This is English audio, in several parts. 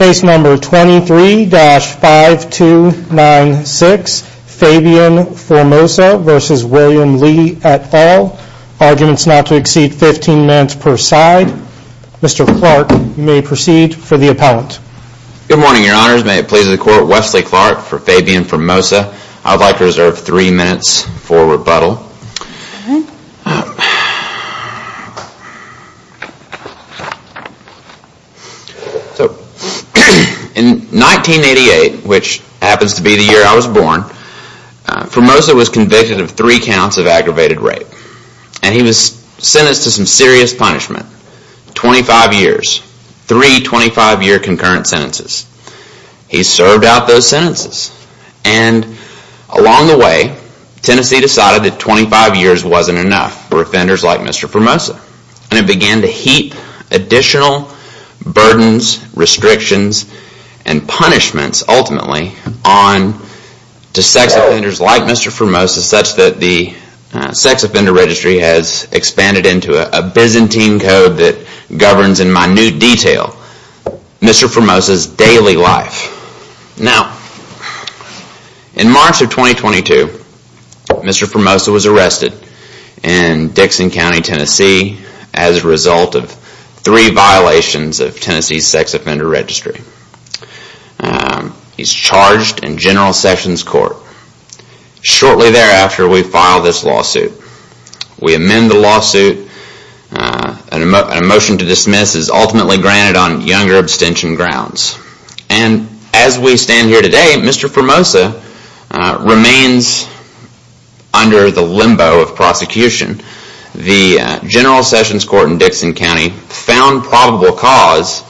et al. Arguments not to exceed 15 minutes per side. Mr. Clark, you may proceed for the appellant. Good morning, your honors. May it please the court, Wesley Clark for Fabian Formosa. In 1988, which happens to be the year I was born, Formosa was convicted of three counts of aggravated rape. And he was sentenced to some serious punishment. 25 years. Three 25-year concurrent sentences. He served out those sentences. And along the way, Tennessee decided that 25 years wasn't enough for offenders like Mr. Formosa. And it began to heap additional burdens, restrictions, and punishments, ultimately, on to sex offenders like Mr. Formosa such that the Sex Offender Registry has expanded into a Byzantine code that governs in minute detail Mr. Formosa's daily life. Now, in March of 2022, Mr. Formosa was arrested in Dixon County, Tennessee's Sex Offender Registry. He's charged in General Sessions Court. Shortly thereafter, we file this lawsuit. We amend the lawsuit. A motion to dismiss is ultimately granted on younger abstention grounds. And as we stand here today, Mr. Formosa remains under the limbo of prosecution. The General Sessions Court in Dixon County found probable cause,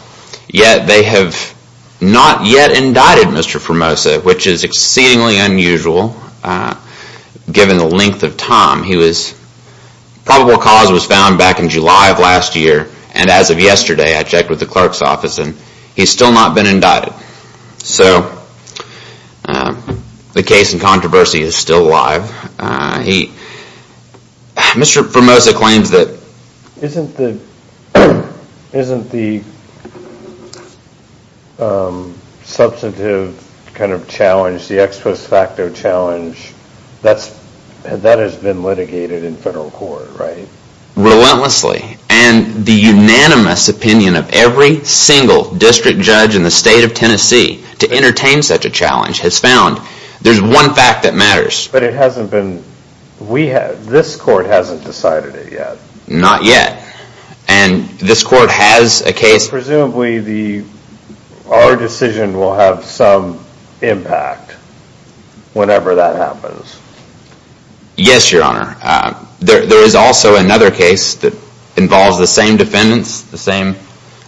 yet they have not yet indicted Mr. Formosa, which is exceedingly unusual given the length of time. Probable cause was found back in July of last year. And as of yesterday, I checked with the clerk's office, and he's still not been indicted. So the case in controversy is still alive. Mr. Formosa claims that... Isn't the substantive kind of challenge, the ex post facto challenge, that has been litigated in federal court, right? Relentlessly. And the unanimous opinion of every single district judge in the state of Tennessee to entertain such a challenge has found there's one fact that matters. But it hasn't been... This court hasn't decided it yet. Not yet. And this court has a case... Presumably our decision will have some impact whenever that happens. Yes, Your Honor. There is also another case that involves the same defendants, the same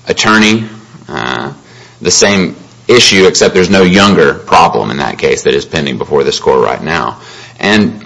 attorney, the same issue, except there's no younger problem in that case that is pending before this court right now. And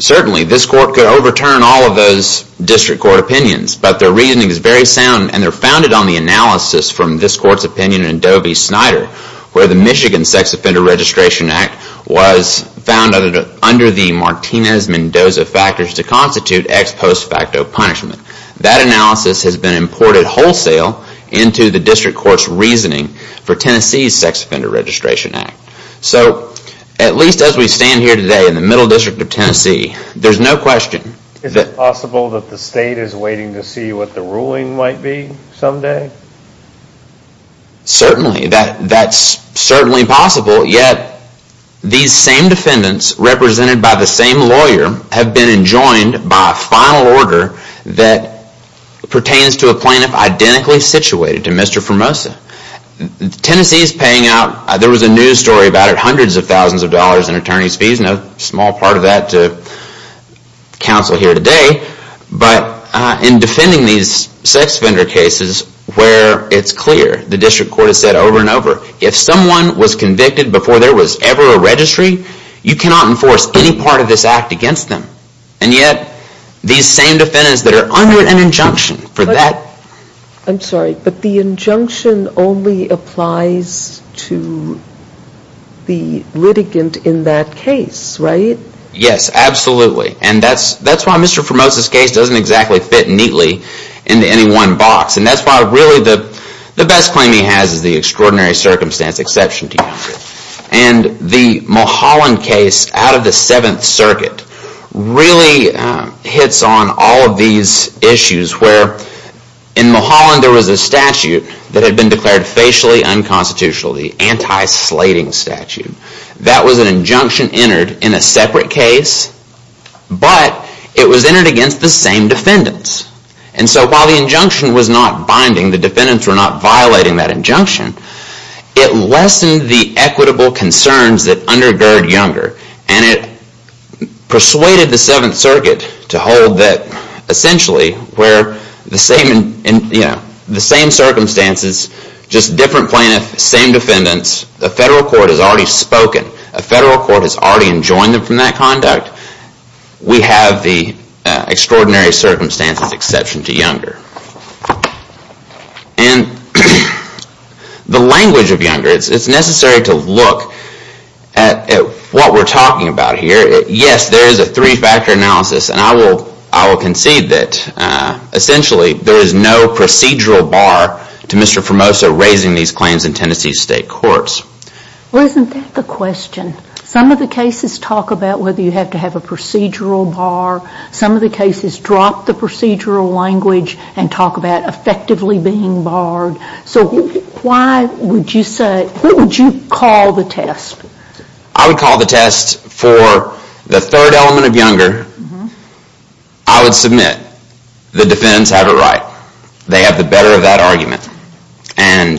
certainly this court could overturn all of those district court opinions, but their reasoning is very sound and they're founded on the analysis from this court's opinion in Adobe-Snyder, where the Michigan Sex Offender Registration Act was found under the Martinez-Mendoza factors to constitute ex post facto punishment. That analysis has been imported wholesale into the district court's reasoning for Tennessee's Sex Offender Registration Act. So at least as we stand here today in the Middle District of Tennessee, there's no question... Is it possible that the state is waiting to see what the ruling might be someday? Certainly. That's certainly possible, yet these same defendants represented by the same lawyer have been enjoined by a final order that pertains to a plaintiff identically situated to Mr. Formosa. Tennessee is paying out... There was a news story about it, hundreds of thousands of dollars in attorney's fees, no small part of that to counsel here today, but in defending these sex offender cases where it's clear, the district court has said over and over, if someone was convicted before there was ever a registry, you cannot enforce any part of this act against them. And yet, these same defendants that are under an injunction for that... I'm sorry, but the injunction only applies to the litigant in that case, right? Yes, absolutely. And that's why Mr. Formosa's case doesn't exactly fit neatly into any one box. And that's why really the best claim he has is the extraordinary circumstance exception to the statute. And the Mulholland case out of the 7th Circuit really hits on all of these issues where in Mulholland there was a statute that had been declared facially unconstitutional, the anti-slating statute. That was an injunction entered in a separate case, but it was entered against the same defendants. And so while the injunction was not binding, the defendants were not violating that injunction, it lessened the equitable concerns that undergird Younger. And it persuaded the 7th Circuit to hold that essentially where the same circumstances, just different plaintiffs, same defendants, a federal court has already spoken, a federal court has already enjoined them from that conduct, we have the extraordinary circumstances exception to Younger. And the language of Younger, it's necessary to look at what we're talking about here. Yes, there is a three-factor analysis and I will concede that essentially there is no procedural bar to Mr. Formosa raising these claims in Tennessee's state courts. Well, isn't that the question? Some of the cases talk about whether you have to have a procedural bar. Some of the cases drop the procedural language and talk about effectively being barred. So why would you say, what would you call the test? I would call the test for the third element of Younger, I would submit the defendants have it right. They have the better of that argument. And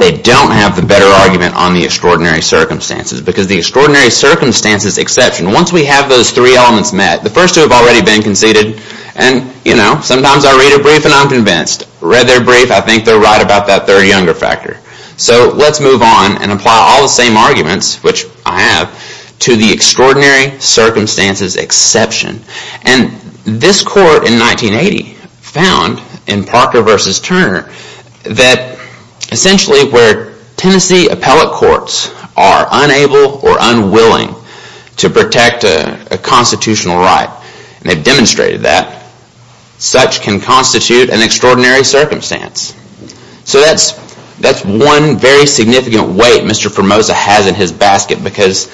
they don't have the better argument on the extraordinary circumstances. Because the extraordinary circumstances exception, once we have those three elements met, the first two have already been conceded and, you know, sometimes I read a brief and I'm convinced. Read their brief, I think they're right about that third Younger factor. So let's move on and apply all the same arguments, which I have, to the extraordinary circumstances exception. And this court in 1980 found in Parker v. Turner that essentially where Tennessee appellate courts are unable or unwilling to protect a constitutional right, and they've demonstrated that, such can constitute an extraordinary circumstance. So that's one very significant weight Mr. Formosa has in his basket because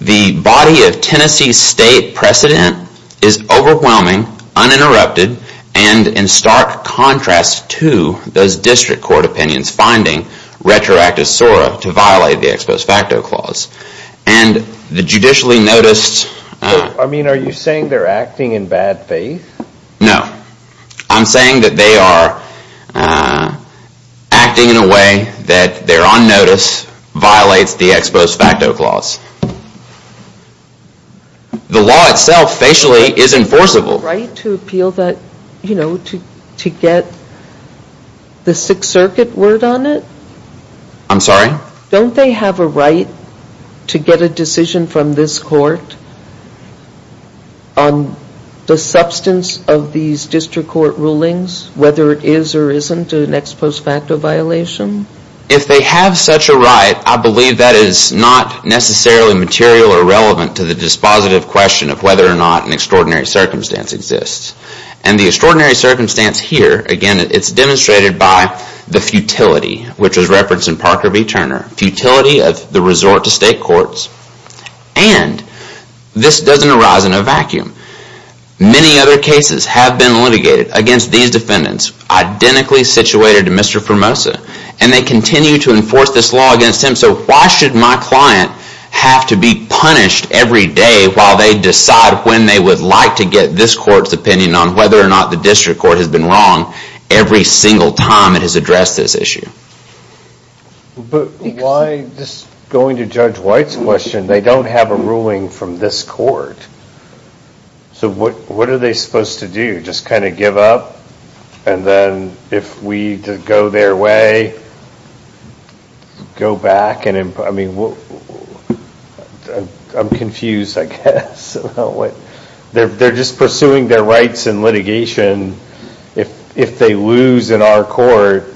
the body of Tennessee state precedent is overwhelming, uninterrupted, and in stark contrast to those district court opinions finding retroactive SORA to violate the ex post facto clause. And the judicially noticed... I mean, are you saying they're acting in bad faith? No. I'm saying that they are acting in a way that they're on notice violates the ex post facto clause. The law itself facially is enforceable. Don't they have a right to appeal that, you know, to get the Sixth Circuit word on it? I'm sorry? Don't they have a right to get a decision from this court on the substance of these district court rulings, whether it is or isn't an ex post facto violation? If they have such a right, I believe that is not necessarily material or relevant to the dispositive question of whether or not an extraordinary circumstance exists. And the extraordinary circumstance here, again, it's demonstrated by the futility, which was referenced in Parker v. Turner. Futility of the resort to state courts. And this doesn't arise in a vacuum. Many other cases have been litigated against these defendants identically situated to Mr. Formosa, and they continue to enforce this law against him. So why should my client have to be punished every day while they decide when they would like to get this court's opinion on whether or not the district court has been wrong every single time it has addressed this issue? But why, just going to Judge White's question, they don't have a ruling from this court. So what are they supposed to do? Just kind of give up? And then if we go their way, go back and, I mean, I'm confused, I guess. They're just pursuing their rights in litigation. If they lose in our court,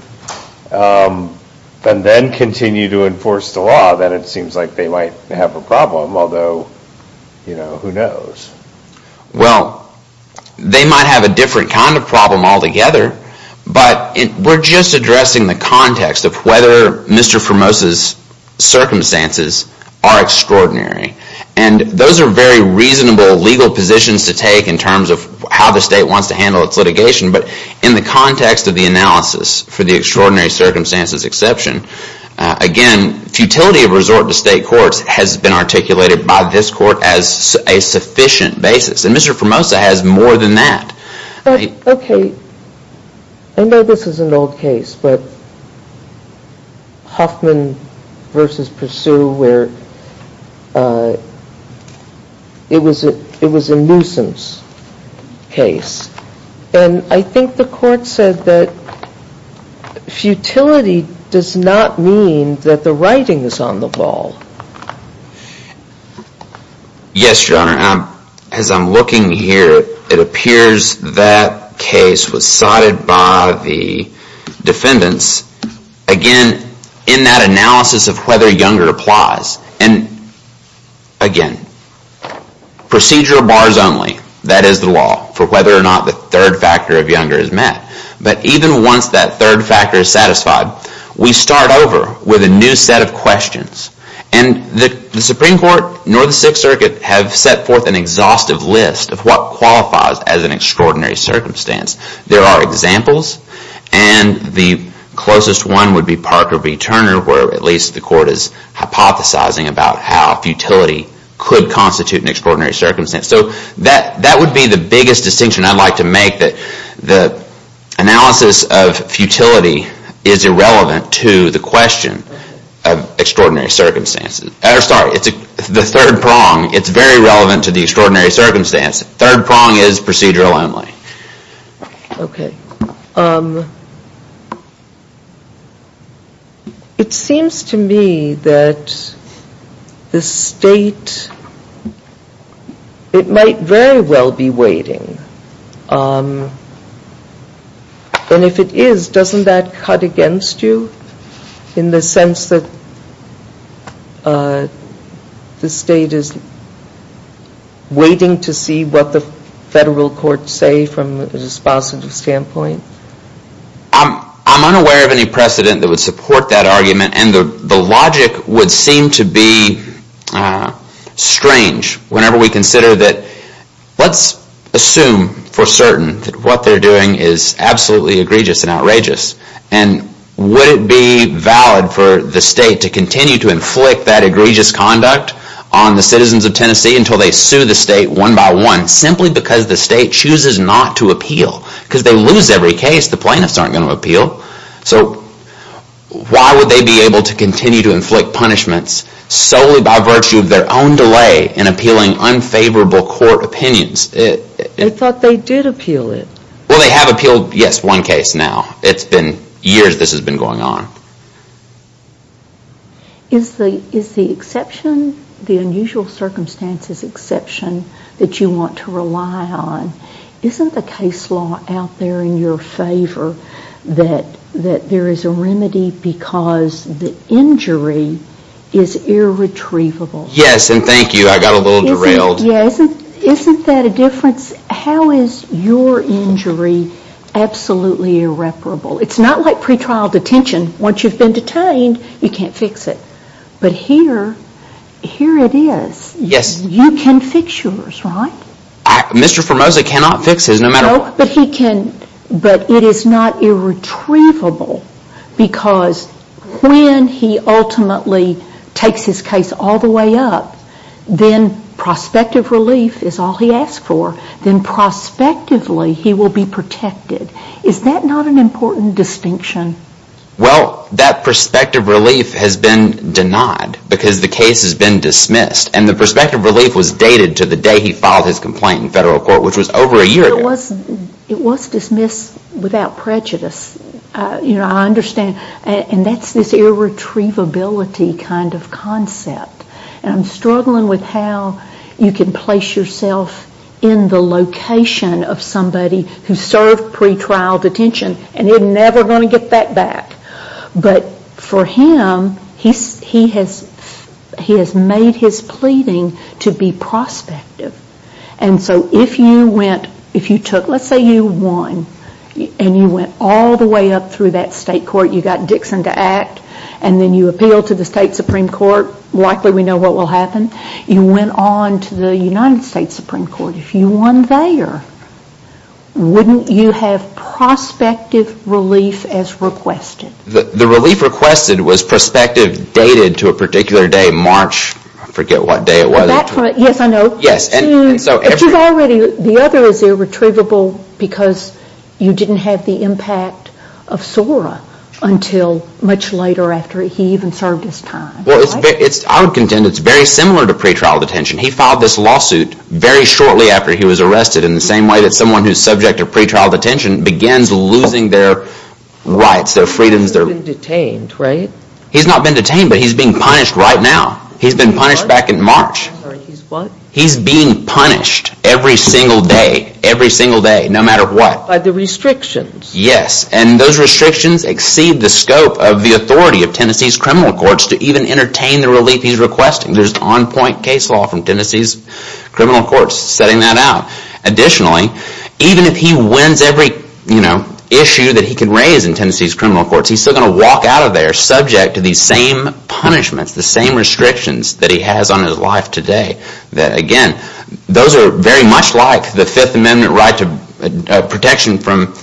and then continue to enforce the law, then it seems like they might have a problem, although, you know, who knows? Well, they might have a different kind of problem altogether, but we're just addressing the context of whether Mr. Formosa's circumstances are extraordinary. And those are very reasonable legal positions to take in terms of how the state wants to handle its litigation, but in the context of the analysis for the extraordinary circumstances exception, again, futility of resort to state courts has been articulated by this court as a sufficient basis, and Mr. Formosa has more than that. Okay. I know this is an old case, but Hoffman v. Pursue, where it was a nuisance case, and I think the court said that futility does not mean that the writing is on the wall. Yes, Your Honor. As I'm looking here, it appears that case was sodded by the defendants. Again, in that analysis of whether Younger applies, and again, procedure of bars only, that is the law for whether or not the third factor of Younger is met. But even once that third factor is satisfied, we start over with a new set of questions. And the Supreme Court, nor the Sixth Circuit, have set forth an exhaustive list of what qualifies as an extraordinary circumstance. There are examples, and the closest one would be Parker v. Turner, where at least the court is hypothesizing about how futility could constitute an extraordinary circumstance. So that would be the biggest distinction I'd like to make, that the analysis of futility is irrelevant to the question of extraordinary circumstances. Sorry, the third prong, it's very relevant to the extraordinary circumstance. Third prong is procedural only. Okay. It seems to me that the State, it might very well be waiting. And if it is, doesn't that cut against you in the sense that the State is waiting to see what the federal courts say from a dispositive standpoint? I'm unaware of any precedent that would support that argument, and the logic would seem to be strange whenever we consider that, let's assume for certain that what they're doing is absolutely egregious and outrageous. And would it be valid for the State to continue to inflict that egregious conduct on the citizens of Tennessee until they sue the State one by one, simply because the State chooses not to appeal? Because they lose every case, the plaintiffs aren't going to appeal. So why would they be able to continue to inflict punishments solely by virtue of their own delay in appealing unfavorable court opinions? They thought they did appeal it. Well, they have appealed, yes, one case now. It's been years this has been going on. Is the exception, the unusual circumstances exception that you want to rely on, isn't the case law out there in your favor that there is a remedy because the injury is irretrievable? Yes, and thank you, I got a little derailed. Isn't that a difference? How is your injury absolutely irreparable? It's not like pretrial detention. Once you've been detained, you can't fix it. But here, here it is. You can fix yours, right? Mr. Formosa cannot fix his, no matter what. But it is not irretrievable because when he ultimately takes his case all the way up, then prospective relief is all he asks for. Then prospectively he will be protected. Is that not an important distinction? Well, that prospective relief has been denied because the case has been dismissed. And the prospective relief was dated to the day he filed his complaint in federal court, which was over a year ago. It was dismissed without prejudice. You know, I understand. And that's this irretrievability kind of concept. And I'm struggling with how you can place yourself in the location of somebody who served pretrial detention, and you're never going to get that back. But for him, he has made his pleading to be prospective. And so if you went, if you took, let's say you won, and you went all the way up through that state court, you got Dixon to act, and then you appealed to the state Supreme Court, likely we know what will happen. You went on to the United States Supreme Court. If you won there, wouldn't you have prospective relief as requested? The relief requested was prospective, dated to a particular day, March, I forget what day it was. Yes, I know. Yes. But you've already, the other is irretrievable because you didn't have the impact of Sora until much later after he even served his time. Well, I would contend it's very similar to pretrial detention. He filed this lawsuit very shortly after he was arrested, in the same way that someone who's subject to pretrial detention begins losing their rights, their freedoms, their... He's not been detained, right? He's not been detained, but he's being punished right now. He's been punished back in March. He's being punished every single day, every single day, no matter what. By the restrictions. Yes, and those restrictions exceed the scope of the authority of Tennessee's criminal courts to even entertain the relief he's requesting. There's on-point case law from Tennessee's criminal courts setting that out. Additionally, even if he wins every issue that he can raise in Tennessee's criminal courts, he's still going to walk out of there subject to these same punishments, the same restrictions that he has on his life today. That again, those are very much like the Fifth Amendment right to protection from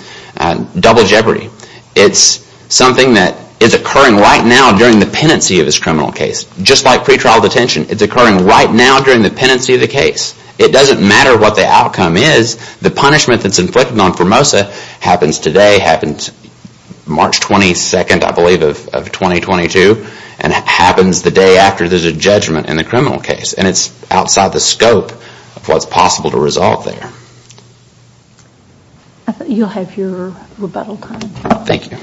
double jeopardy. It's something that is occurring right now during the pendency of his criminal case. Just like pretrial detention, it's occurring right now during the pendency of the case. It doesn't matter what the outcome is, the punishment that's inflicted on Formosa happens today, happens March 22nd, I believe, of 2022, and happens the day after there's a judgment in the criminal case. It's outside the scope of what's possible to resolve there. I think you'll have your rebuttal time. Thank you.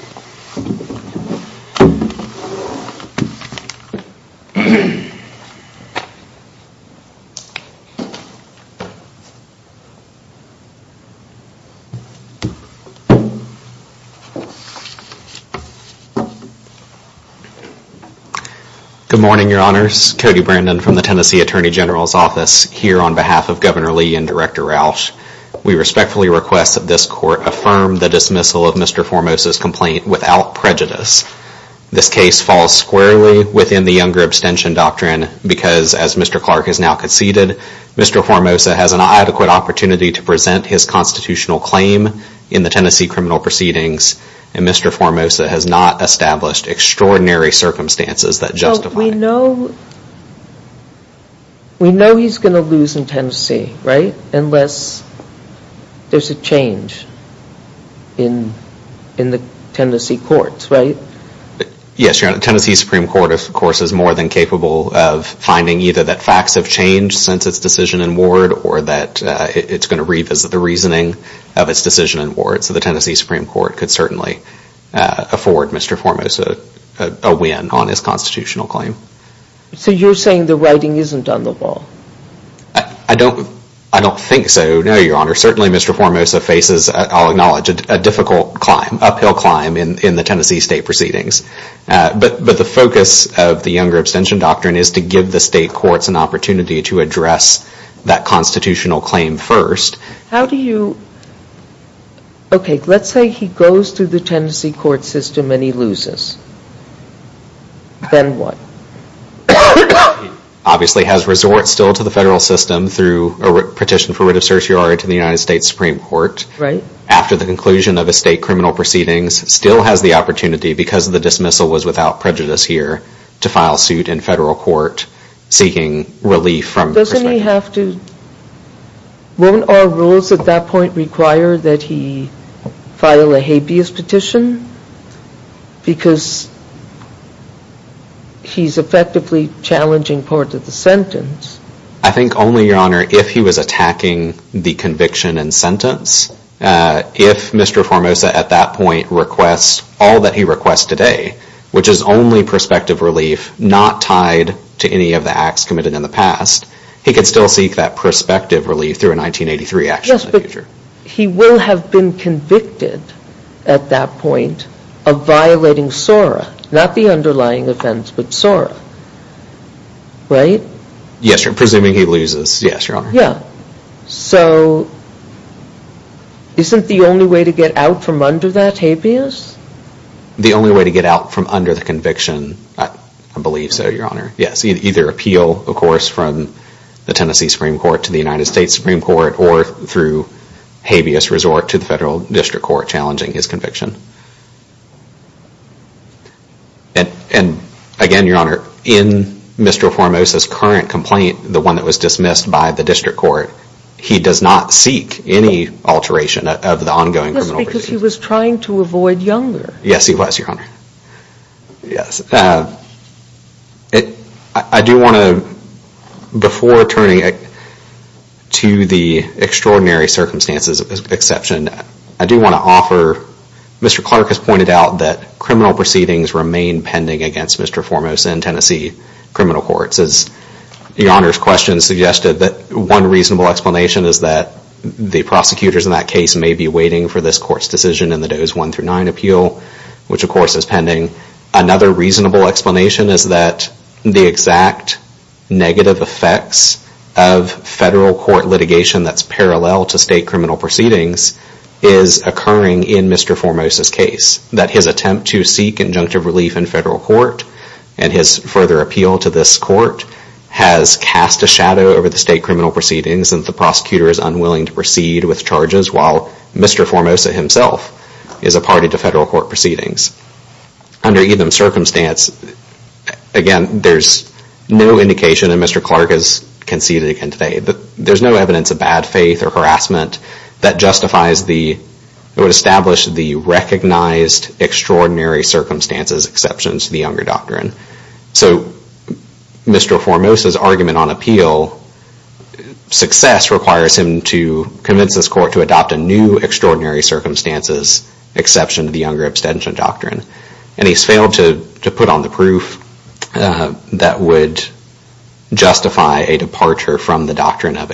Good morning, Your Honors. Cody Brandon from the Tennessee Attorney General's Office here on behalf of Governor Lee and Director Rauch, we respectfully request that this Court affirm the dismissal of Mr. Formosa's complaint without prejudice. This case falls squarely within the Younger Abstention Doctrine because as Mr. Clark has now conceded, Mr. Formosa has an adequate opportunity to present his constitutional claim in the Tennessee criminal proceedings and Mr. Formosa has not established extraordinary circumstances that justify it. We know he's going to lose in Tennessee, right, unless there's a change in the Tennessee courts, right? Yes, Your Honor. The Tennessee Supreme Court, of course, is more than capable of finding either that facts have changed since its decision in Ward or that it's going to revisit the reasoning of its decision in Ward. So the Tennessee Supreme Court could certainly afford Mr. Formosa a win on his constitutional claim. So you're saying the writing isn't on the wall? I don't think so, no, Your Honor. Certainly Mr. Formosa faces, I'll acknowledge, a difficult climb, uphill climb in the Tennessee state proceedings. But the focus of the Younger Abstention Doctrine is to give the state courts an opportunity to address that constitutional claim first. How do you, okay, let's say he goes to the Tennessee court system and he loses, then what? He obviously has resort still to the federal system through a petition for writ of certiorari to the United States Supreme Court. After the conclusion of a state criminal proceedings, still has the opportunity because of the dismissal was without prejudice here, to file suit in federal court seeking relief from the perspective. Won't our rules at that point require that he file a habeas petition? Because he's effectively challenging part of the sentence. I think only, Your Honor, if he was attacking the conviction and sentence, if Mr. Formosa at that point requests all that he requests today, which is only prospective relief not tied to any of the acts committed in the past, he could still seek that prospective relief through a 1983 action in the future. He will have been convicted at that point of violating SORA, not the underlying offense but SORA, right? Yes, Your Honor, presuming he loses, yes, Your Honor. So isn't the only way to get out from under that habeas? The only way to get out from under the conviction, I believe so, Your Honor, yes, either appeal, of course, from the Tennessee Supreme Court to the United States Supreme Court or through habeas resort to the federal district court challenging his conviction. And again, Your Honor, in Mr. Formosa's current complaint, the one that was dismissed by the district court, he does not seek any alteration of the ongoing criminal proceedings. Because he was trying to avoid younger. Yes, he was, Your Honor, yes. I do want to, before turning to the extraordinary circumstances exception, I do want to offer, Mr. Clark has pointed out that criminal proceedings remain pending against Mr. Formosa in Tennessee criminal courts. As Your Honor's question suggested, that one reasonable explanation is that the prosecutors in that case may be waiting for this court's decision in the Doe's one through nine appeal, which of course is pending. Another reasonable explanation is that the exact negative effects of federal court litigation that's parallel to state criminal proceedings is occurring in Mr. Formosa's case. That his attempt to seek injunctive relief in federal court and his further appeal to this court has cast a shadow over the state criminal proceedings and the prosecutor is unwilling to proceed with charges while Mr. Formosa himself is a party to federal court proceedings. Under either circumstance, again, there's no indication, and Mr. Clark has conceded again today, that there's no evidence of bad faith or harassment that justifies the, that would establish the recognized extraordinary circumstances exceptions to the Younger Doctrine. So Mr. Formosa's argument on appeal, success requires him to convince this court to adopt a new extraordinary circumstances exception to the Younger Abstention Doctrine, and he's failed to put on the proof that would justify a departure from the doctrine of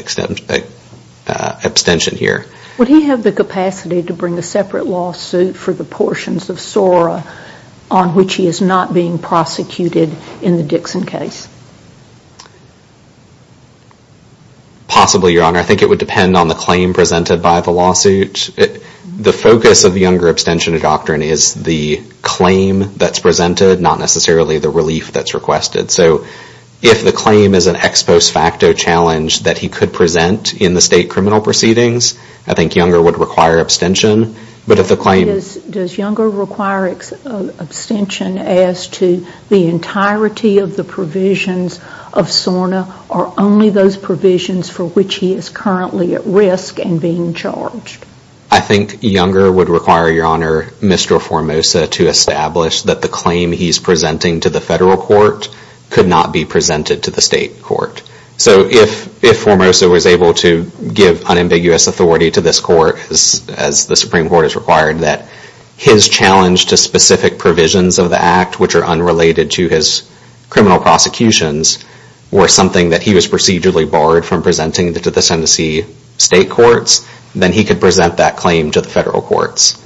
abstention here. Would he have the capacity to bring a separate lawsuit for the portions of SORA on which he is not being prosecuted in the Dixon case? Possibly, Your Honor. I think it would depend on the claim presented by the lawsuit. The focus of the Younger Abstention Doctrine is the claim that's presented, not necessarily the relief that's requested. So if the claim is an ex post facto challenge that he could present in the state criminal proceedings, I think Younger would require abstention. But if the claim... Does Younger require abstention as to the entirety of the provisions of SORNA or only those provisions for which he is currently at risk and being charged? I think Younger would require, Your Honor, Mr. Formosa to establish that the claim he's presenting to the federal court could not be presented to the state court. So if Formosa was able to give unambiguous authority to this court, as the Supreme Court has required, that his challenge to specific provisions of the act which are unrelated to his criminal prosecutions were something that he was procedurally barred from presenting to the Tennessee state courts, then he could present that claim to the federal courts.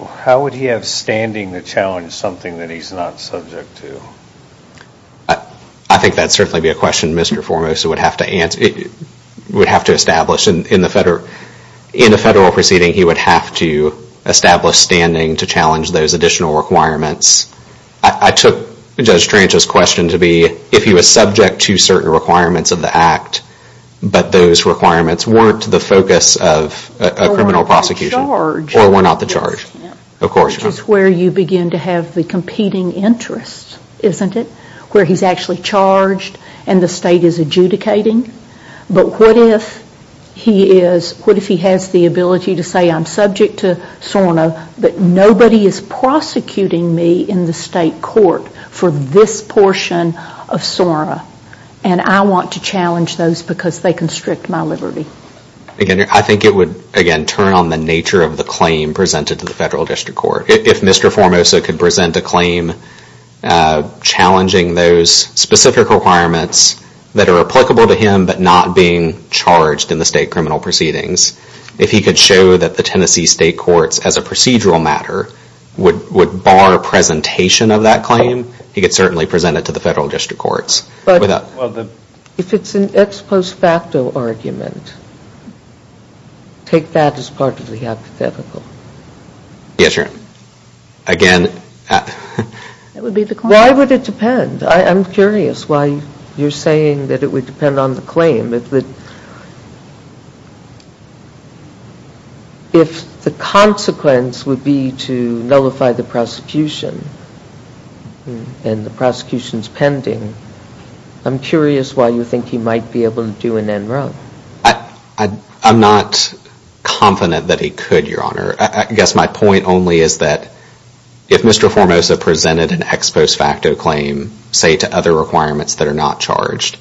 How would he have standing to challenge something that he's not subject to? I think that would certainly be a question Mr. Formosa would have to establish. In a federal proceeding, he would have to establish standing to challenge those additional requirements. I took Judge Tranche's question to be, if he was subject to certain requirements of the act, but those requirements weren't the focus of a criminal prosecution, or were not the charge. Which is where you begin to have the competing interests, isn't it? Where he's actually charged and the state is adjudicating, but what if he has the ability to say, I'm subject to SORNA, but nobody is prosecuting me in the state court for this portion of SORNA, and I want to challenge those because they constrict my liberty. I think it would, again, turn on the nature of the claim presented to the federal district court. If Mr. Formosa could present a claim challenging those specific requirements that are applicable to him, but not being charged in the state criminal proceedings, if he could show that the Tennessee state courts, as a procedural matter, would bar presentation of that claim, he could certainly present it to the federal district courts. But if it's an ex post facto argument, take that as part of the hypothetical. Yes, Your Honor. Again, Why would it depend? I'm curious why you're saying that it would depend on the claim. If the consequence would be to nullify the prosecution, and the prosecution is pending, I'm curious why you think he might be able to do an NRO. I'm not confident that he could, Your Honor. I guess my point only is that if Mr. Formosa presented an ex post facto claim, say to other requirements that are not charged,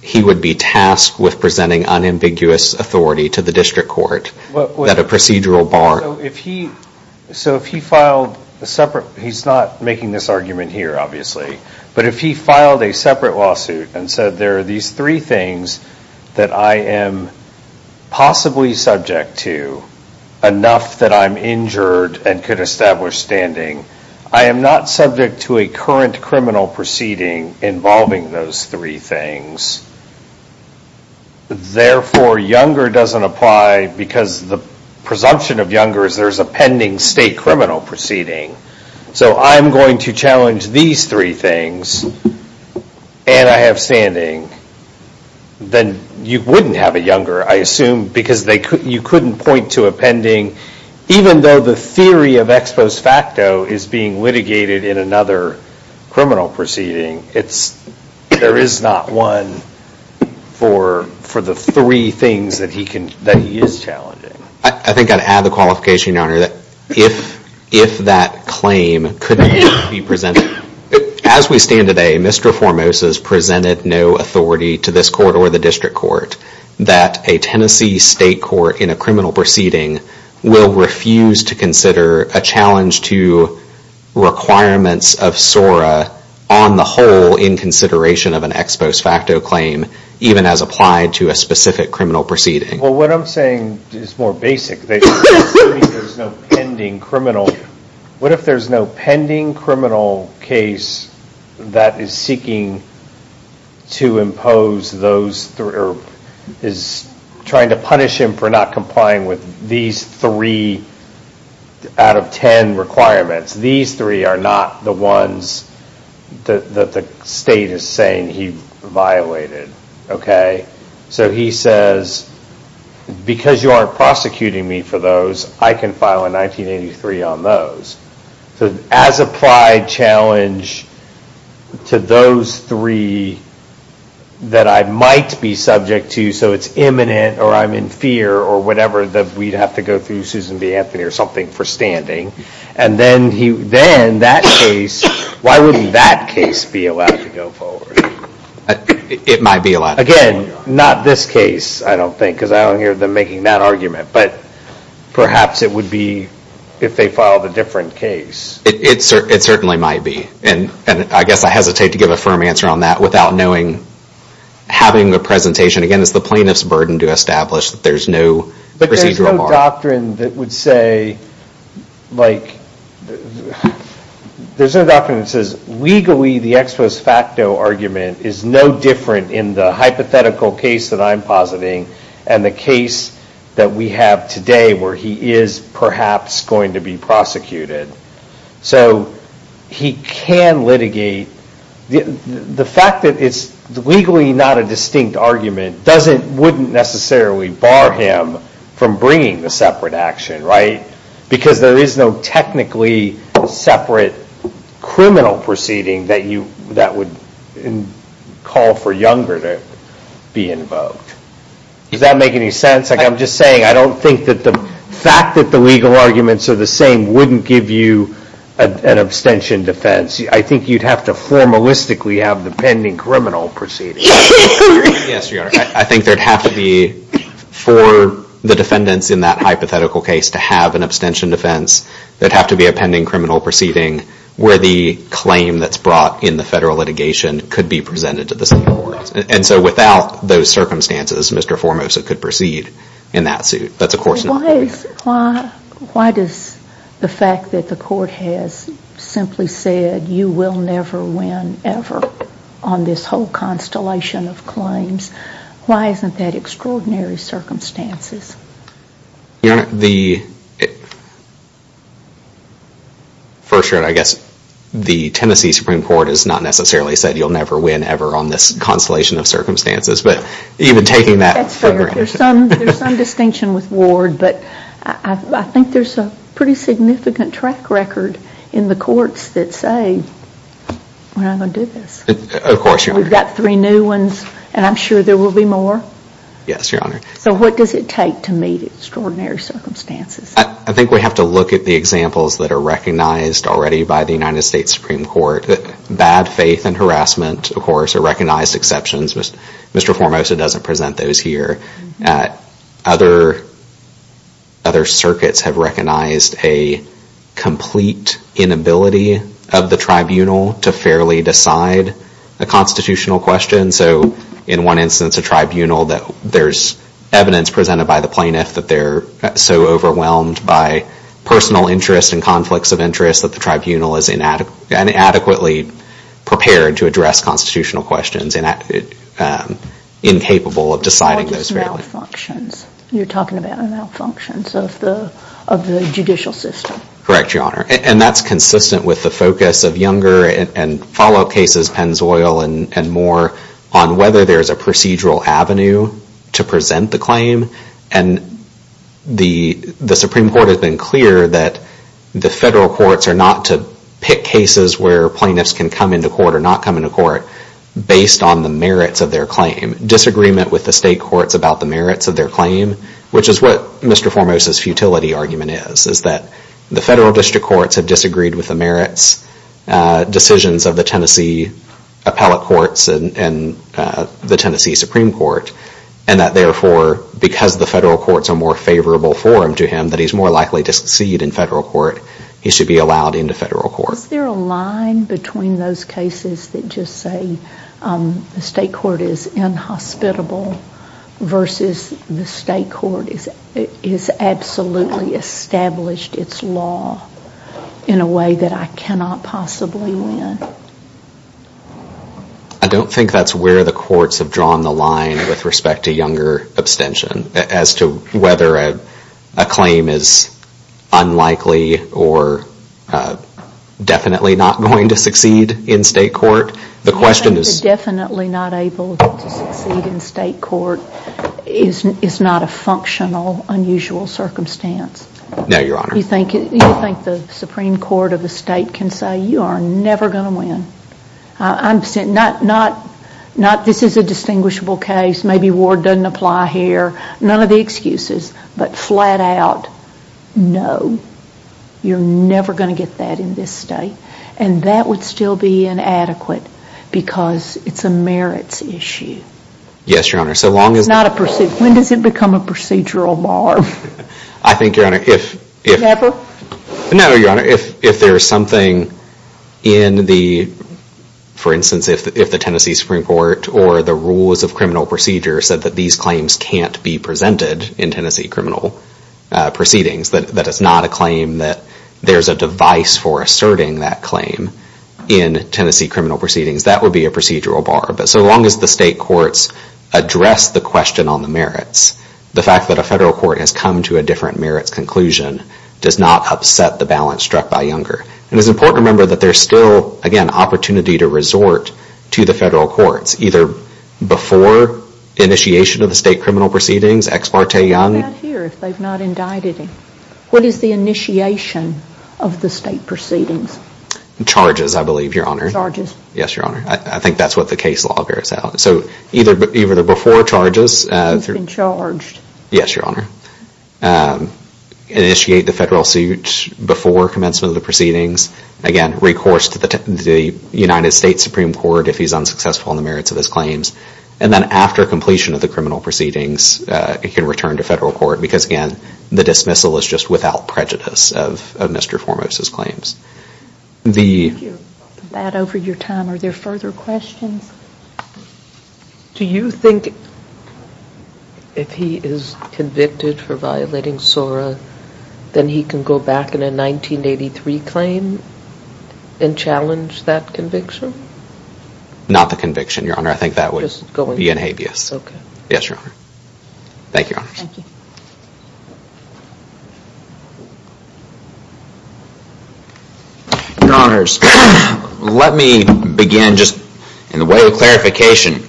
he would be tasked with presenting unambiguous authority to the district court that a procedural bar... So if he filed a separate, he's not making this argument here, obviously, but if he filed a separate lawsuit and said there are these three things that I am possibly subject to, enough that I'm injured and could establish standing, I am not subject to a current criminal proceeding involving those three things. Therefore, younger doesn't apply because the presumption of younger is there's a pending state criminal proceeding. So I'm going to challenge these three things, and I have standing, then you wouldn't have a younger, I assume, because you couldn't point to a pending, even though the theory of ex post facto is being litigated in another criminal proceeding, there is not one for the three things that he is challenging. I think I'd add the qualification, Your Honor, that if that claim could be presented, as we stand today, Mr. Formosa has presented no authority to this court or the district court that a Tennessee state court in a criminal proceeding will refuse to consider a challenge to requirements of SORA on the whole in consideration of an ex post facto claim, even as applied to a specific criminal proceeding. Well, what I'm saying is more basic. What if there's no pending criminal case that is seeking to impose those, is trying to punish him for not complying with these three out of ten requirements? These three are not the ones that the state is saying he violated. Okay? So he says, because you aren't prosecuting me for those, I can file a 1983 on those. As applied challenge to those three that I might be subject to, so it's imminent or I'm in fear or whatever that we'd have to go through Susan B. Anthony or something for standing, and then that case, why wouldn't that case be allowed to go forward? It might be allowed. Again, not this case, I don't think, because I don't hear them making that argument, but perhaps it would be if they filed a different case. It certainly might be, and I guess I hesitate to give a firm answer on that without knowing, having the presentation. Again, it's the plaintiff's burden to establish that there's no procedural bar. But there's no doctrine that would say, like, there's no doctrine that says, legally, the ex post facto argument is no different in the hypothetical case that I'm positing and the case that we have today where he is perhaps going to be prosecuted. So he can litigate. The fact that it's legally not a distinct argument doesn't, wouldn't necessarily bar him from bringing the separate action, right? Because there is no technically separate criminal proceeding that would call for Younger to be invoked. Does that make any sense? I'm just saying, I don't think that the fact that the legal arguments are the same wouldn't give you an abstention defense. I think you'd have to formalistically have the pending criminal proceeding. Yes, Your Honor. I think there'd have to be, for the defendants in that hypothetical case to have an abstention defense. There'd have to be a pending criminal proceeding where the claim that's brought in the federal litigation could be presented to the same court. And so without those circumstances, Mr. Formosa could proceed in that suit. That's of course not what we have. Why does the fact that the court has simply said, you will never win, ever, on this whole constellation of claims, why isn't that extraordinary circumstances? Your Honor, the, first Your Honor, I guess the Tennessee Supreme Court has not necessarily said you'll never win, ever, on this constellation of circumstances. But even taking that further. That's fair. There's some distinction with Ward, but I think there's a pretty significant track record in the courts that say, we're not going to do this. Of course, Your Honor. We've got three new ones, and I'm sure there will be more. Yes, Your Honor. So what does it take to meet extraordinary circumstances? I think we have to look at the examples that are recognized already by the United States Supreme Court. Bad faith and harassment, of course, are recognized exceptions. Mr. Formosa doesn't present those here. Other circuits have recognized a complete inability of the tribunal to fairly decide a constitutional question. So in one instance, a tribunal that there's evidence presented by the plaintiff that they're so overwhelmed by personal interest and conflicts of interest that the tribunal is inadequately prepared to address constitutional questions and incapable of deciding those fairly. All just malfunctions. You're talking about malfunctions of the judicial system. Correct, Your Honor. And that's consistent with the focus of younger and follow-up cases, Penn's Oil and more, on whether there's a procedural avenue to present the claim. The Supreme Court has been clear that the federal courts are not to pick cases where plaintiffs can come into court or not come into court based on the merits of their claim. Disagreement with the state courts about the merits of their claim, which is what Mr. Formosa's futility argument is, is that the federal district courts have disagreed with the merits decisions of the Tennessee appellate courts and the Tennessee Supreme Court and that therefore because the federal courts are more favorable for him to him, that he's more likely to succeed in federal court. He should be allowed into federal court. Is there a line between those cases that just say the state court is inhospitable versus the state court is absolutely established its law in a way that I cannot understand and I cannot possibly win? I don't think that's where the courts have drawn the line with respect to younger abstention as to whether a claim is unlikely or definitely not going to succeed in state court. The question is... Definitely not able to succeed in state court is not a functional, unusual circumstance. No, Your Honor. Do you think the Supreme Court of the state can say you are never going to win? This is a distinguishable case. Maybe Ward doesn't apply here. None of the excuses, but flat out, no. You're never going to get that in this state and that would still be inadequate because it's a merits issue. Yes, Your Honor. Not a procedural. When does it become a procedural bar? I think, Your Honor, if there's something in the, for instance, if the Tennessee Supreme Court or the rules of criminal procedure said that these claims can't be presented in Tennessee criminal proceedings, that it's not a claim that there's a device for asserting that claim in Tennessee criminal proceedings, that would be a procedural bar. But so long as the state courts address the question on the merits, the fact that a federal court has come to a different merits conclusion does not upset the balance struck by Younger. And it's important to remember that there's still, again, opportunity to resort to the federal courts, either before initiation of the state criminal proceedings, ex parte Young. What is the initiation of the state proceedings? Charges, I believe, Your Honor. Yes, Your Honor. I think that's what the case law bears out. So either before charges... He's been charged. Yes, Your Honor. Initiate the federal suit before commencement of the proceedings. Again, recourse to the United States Supreme Court if he's unsuccessful in the merits of his claims. And then after completion of the criminal proceedings, he can return to federal court because, again, the dismissal is just without prejudice of Mr. Formos' claims. Thank you. With that over your time, are there further questions? Do you think if he is convicted for violating SORA, then he can go back in a 1983 claim and challenge that conviction? Not the conviction, Your Honor. I think that would be in habeas. Okay. Yes, Your Honor. Thank you, Your Honor. Thank you. Your Honors, let me begin just in a way of clarification.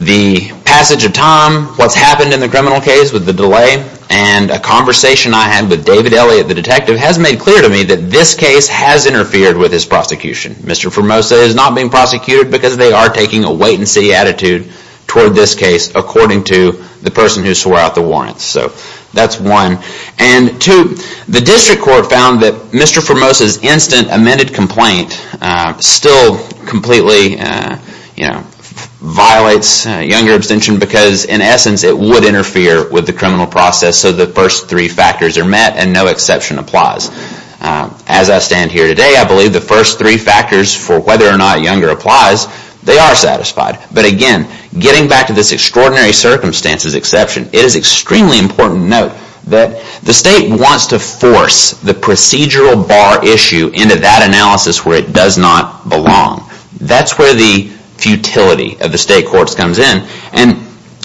The passage of time, what's happened in the criminal case with the delay, and a conversation I had with David Elliott, the detective, has made clear to me that this case has interfered with his prosecution. Mr. Formosa is not being prosecuted because they are taking a wait-and-see attitude toward this case according to the person who swore out the warrants. So that's one. And two, the district court found that Mr. Formosa's instant amended complaint still completely violates younger abstention because, in essence, it would interfere with the criminal process so the first three factors are met and no exception applies. As I stand here today, I believe the first three factors for whether or not younger applies, they are satisfied. But again, getting back to this extraordinary circumstances exception, it is extremely important to note that the state wants to force the procedural bar issue into that analysis where it does not belong. That's where the futility of the state courts comes in. And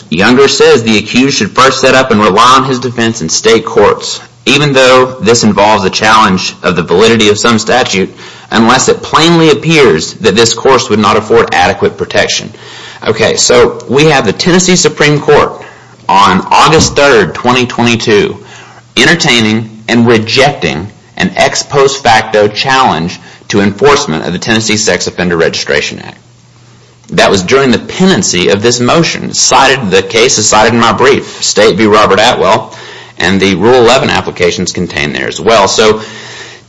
younger says the accused should first set up and rely on his defense in state courts, even though this involves a challenge of the validity of some statute, unless it plainly appears that this course would not afford adequate protection. So we have the Tennessee Supreme Court on August 3, 2022, entertaining and rejecting an ex post facto challenge to enforcement of the Tennessee Sex Offender Registration Act. That was during the pendency of this motion. The case is cited in my brief, State v. Robert Atwell, and the Rule 11 applications contained there as well. So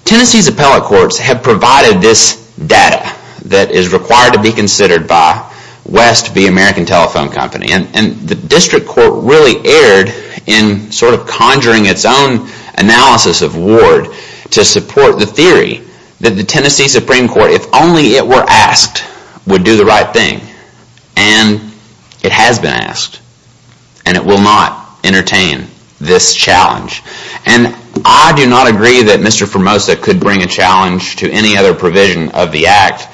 Tennessee's appellate courts have provided this data that is required to be considered by West v. American Telephone Company. And the district court really erred in conjuring its own analysis of Ward to support the theory that the Tennessee Supreme Court, if only it were asked, would do the right thing. And it has been asked. And it will not entertain this challenge. And I do not agree that Mr. Formosa could bring a challenge to any other provision of the act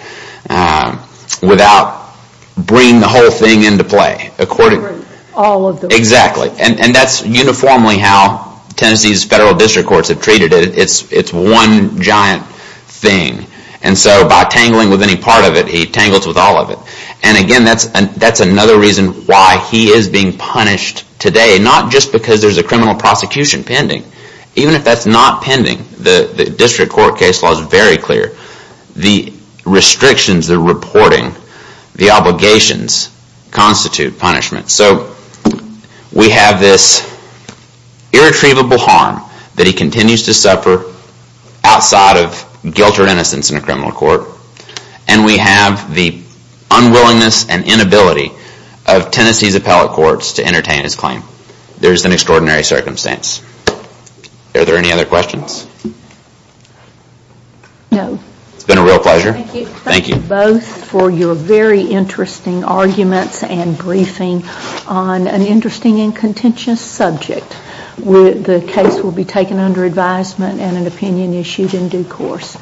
without bringing the whole thing into play accordingly. And that's uniformly how Tennessee's federal district courts have treated it. It's one giant thing. And so by tangling with any part of it, he tangles with all of it. And again, that's another reason why he is being punished today, not just because there's a criminal prosecution pending. Even if that's not pending, the district court case law is very clear. The restrictions, the reporting, the obligations constitute punishment. So we have this irretrievable harm that he continues to suffer outside of guilt or innocence in a criminal court. And we have the unwillingness and inability of Tennessee's appellate courts to entertain his claim. There's an extraordinary circumstance. Are there any other questions? No. It's been a real pleasure. Thank you. Thank you both for your very interesting arguments and briefing on an interesting and contentious subject. The case will be taken under advisement and an opinion issued in due course.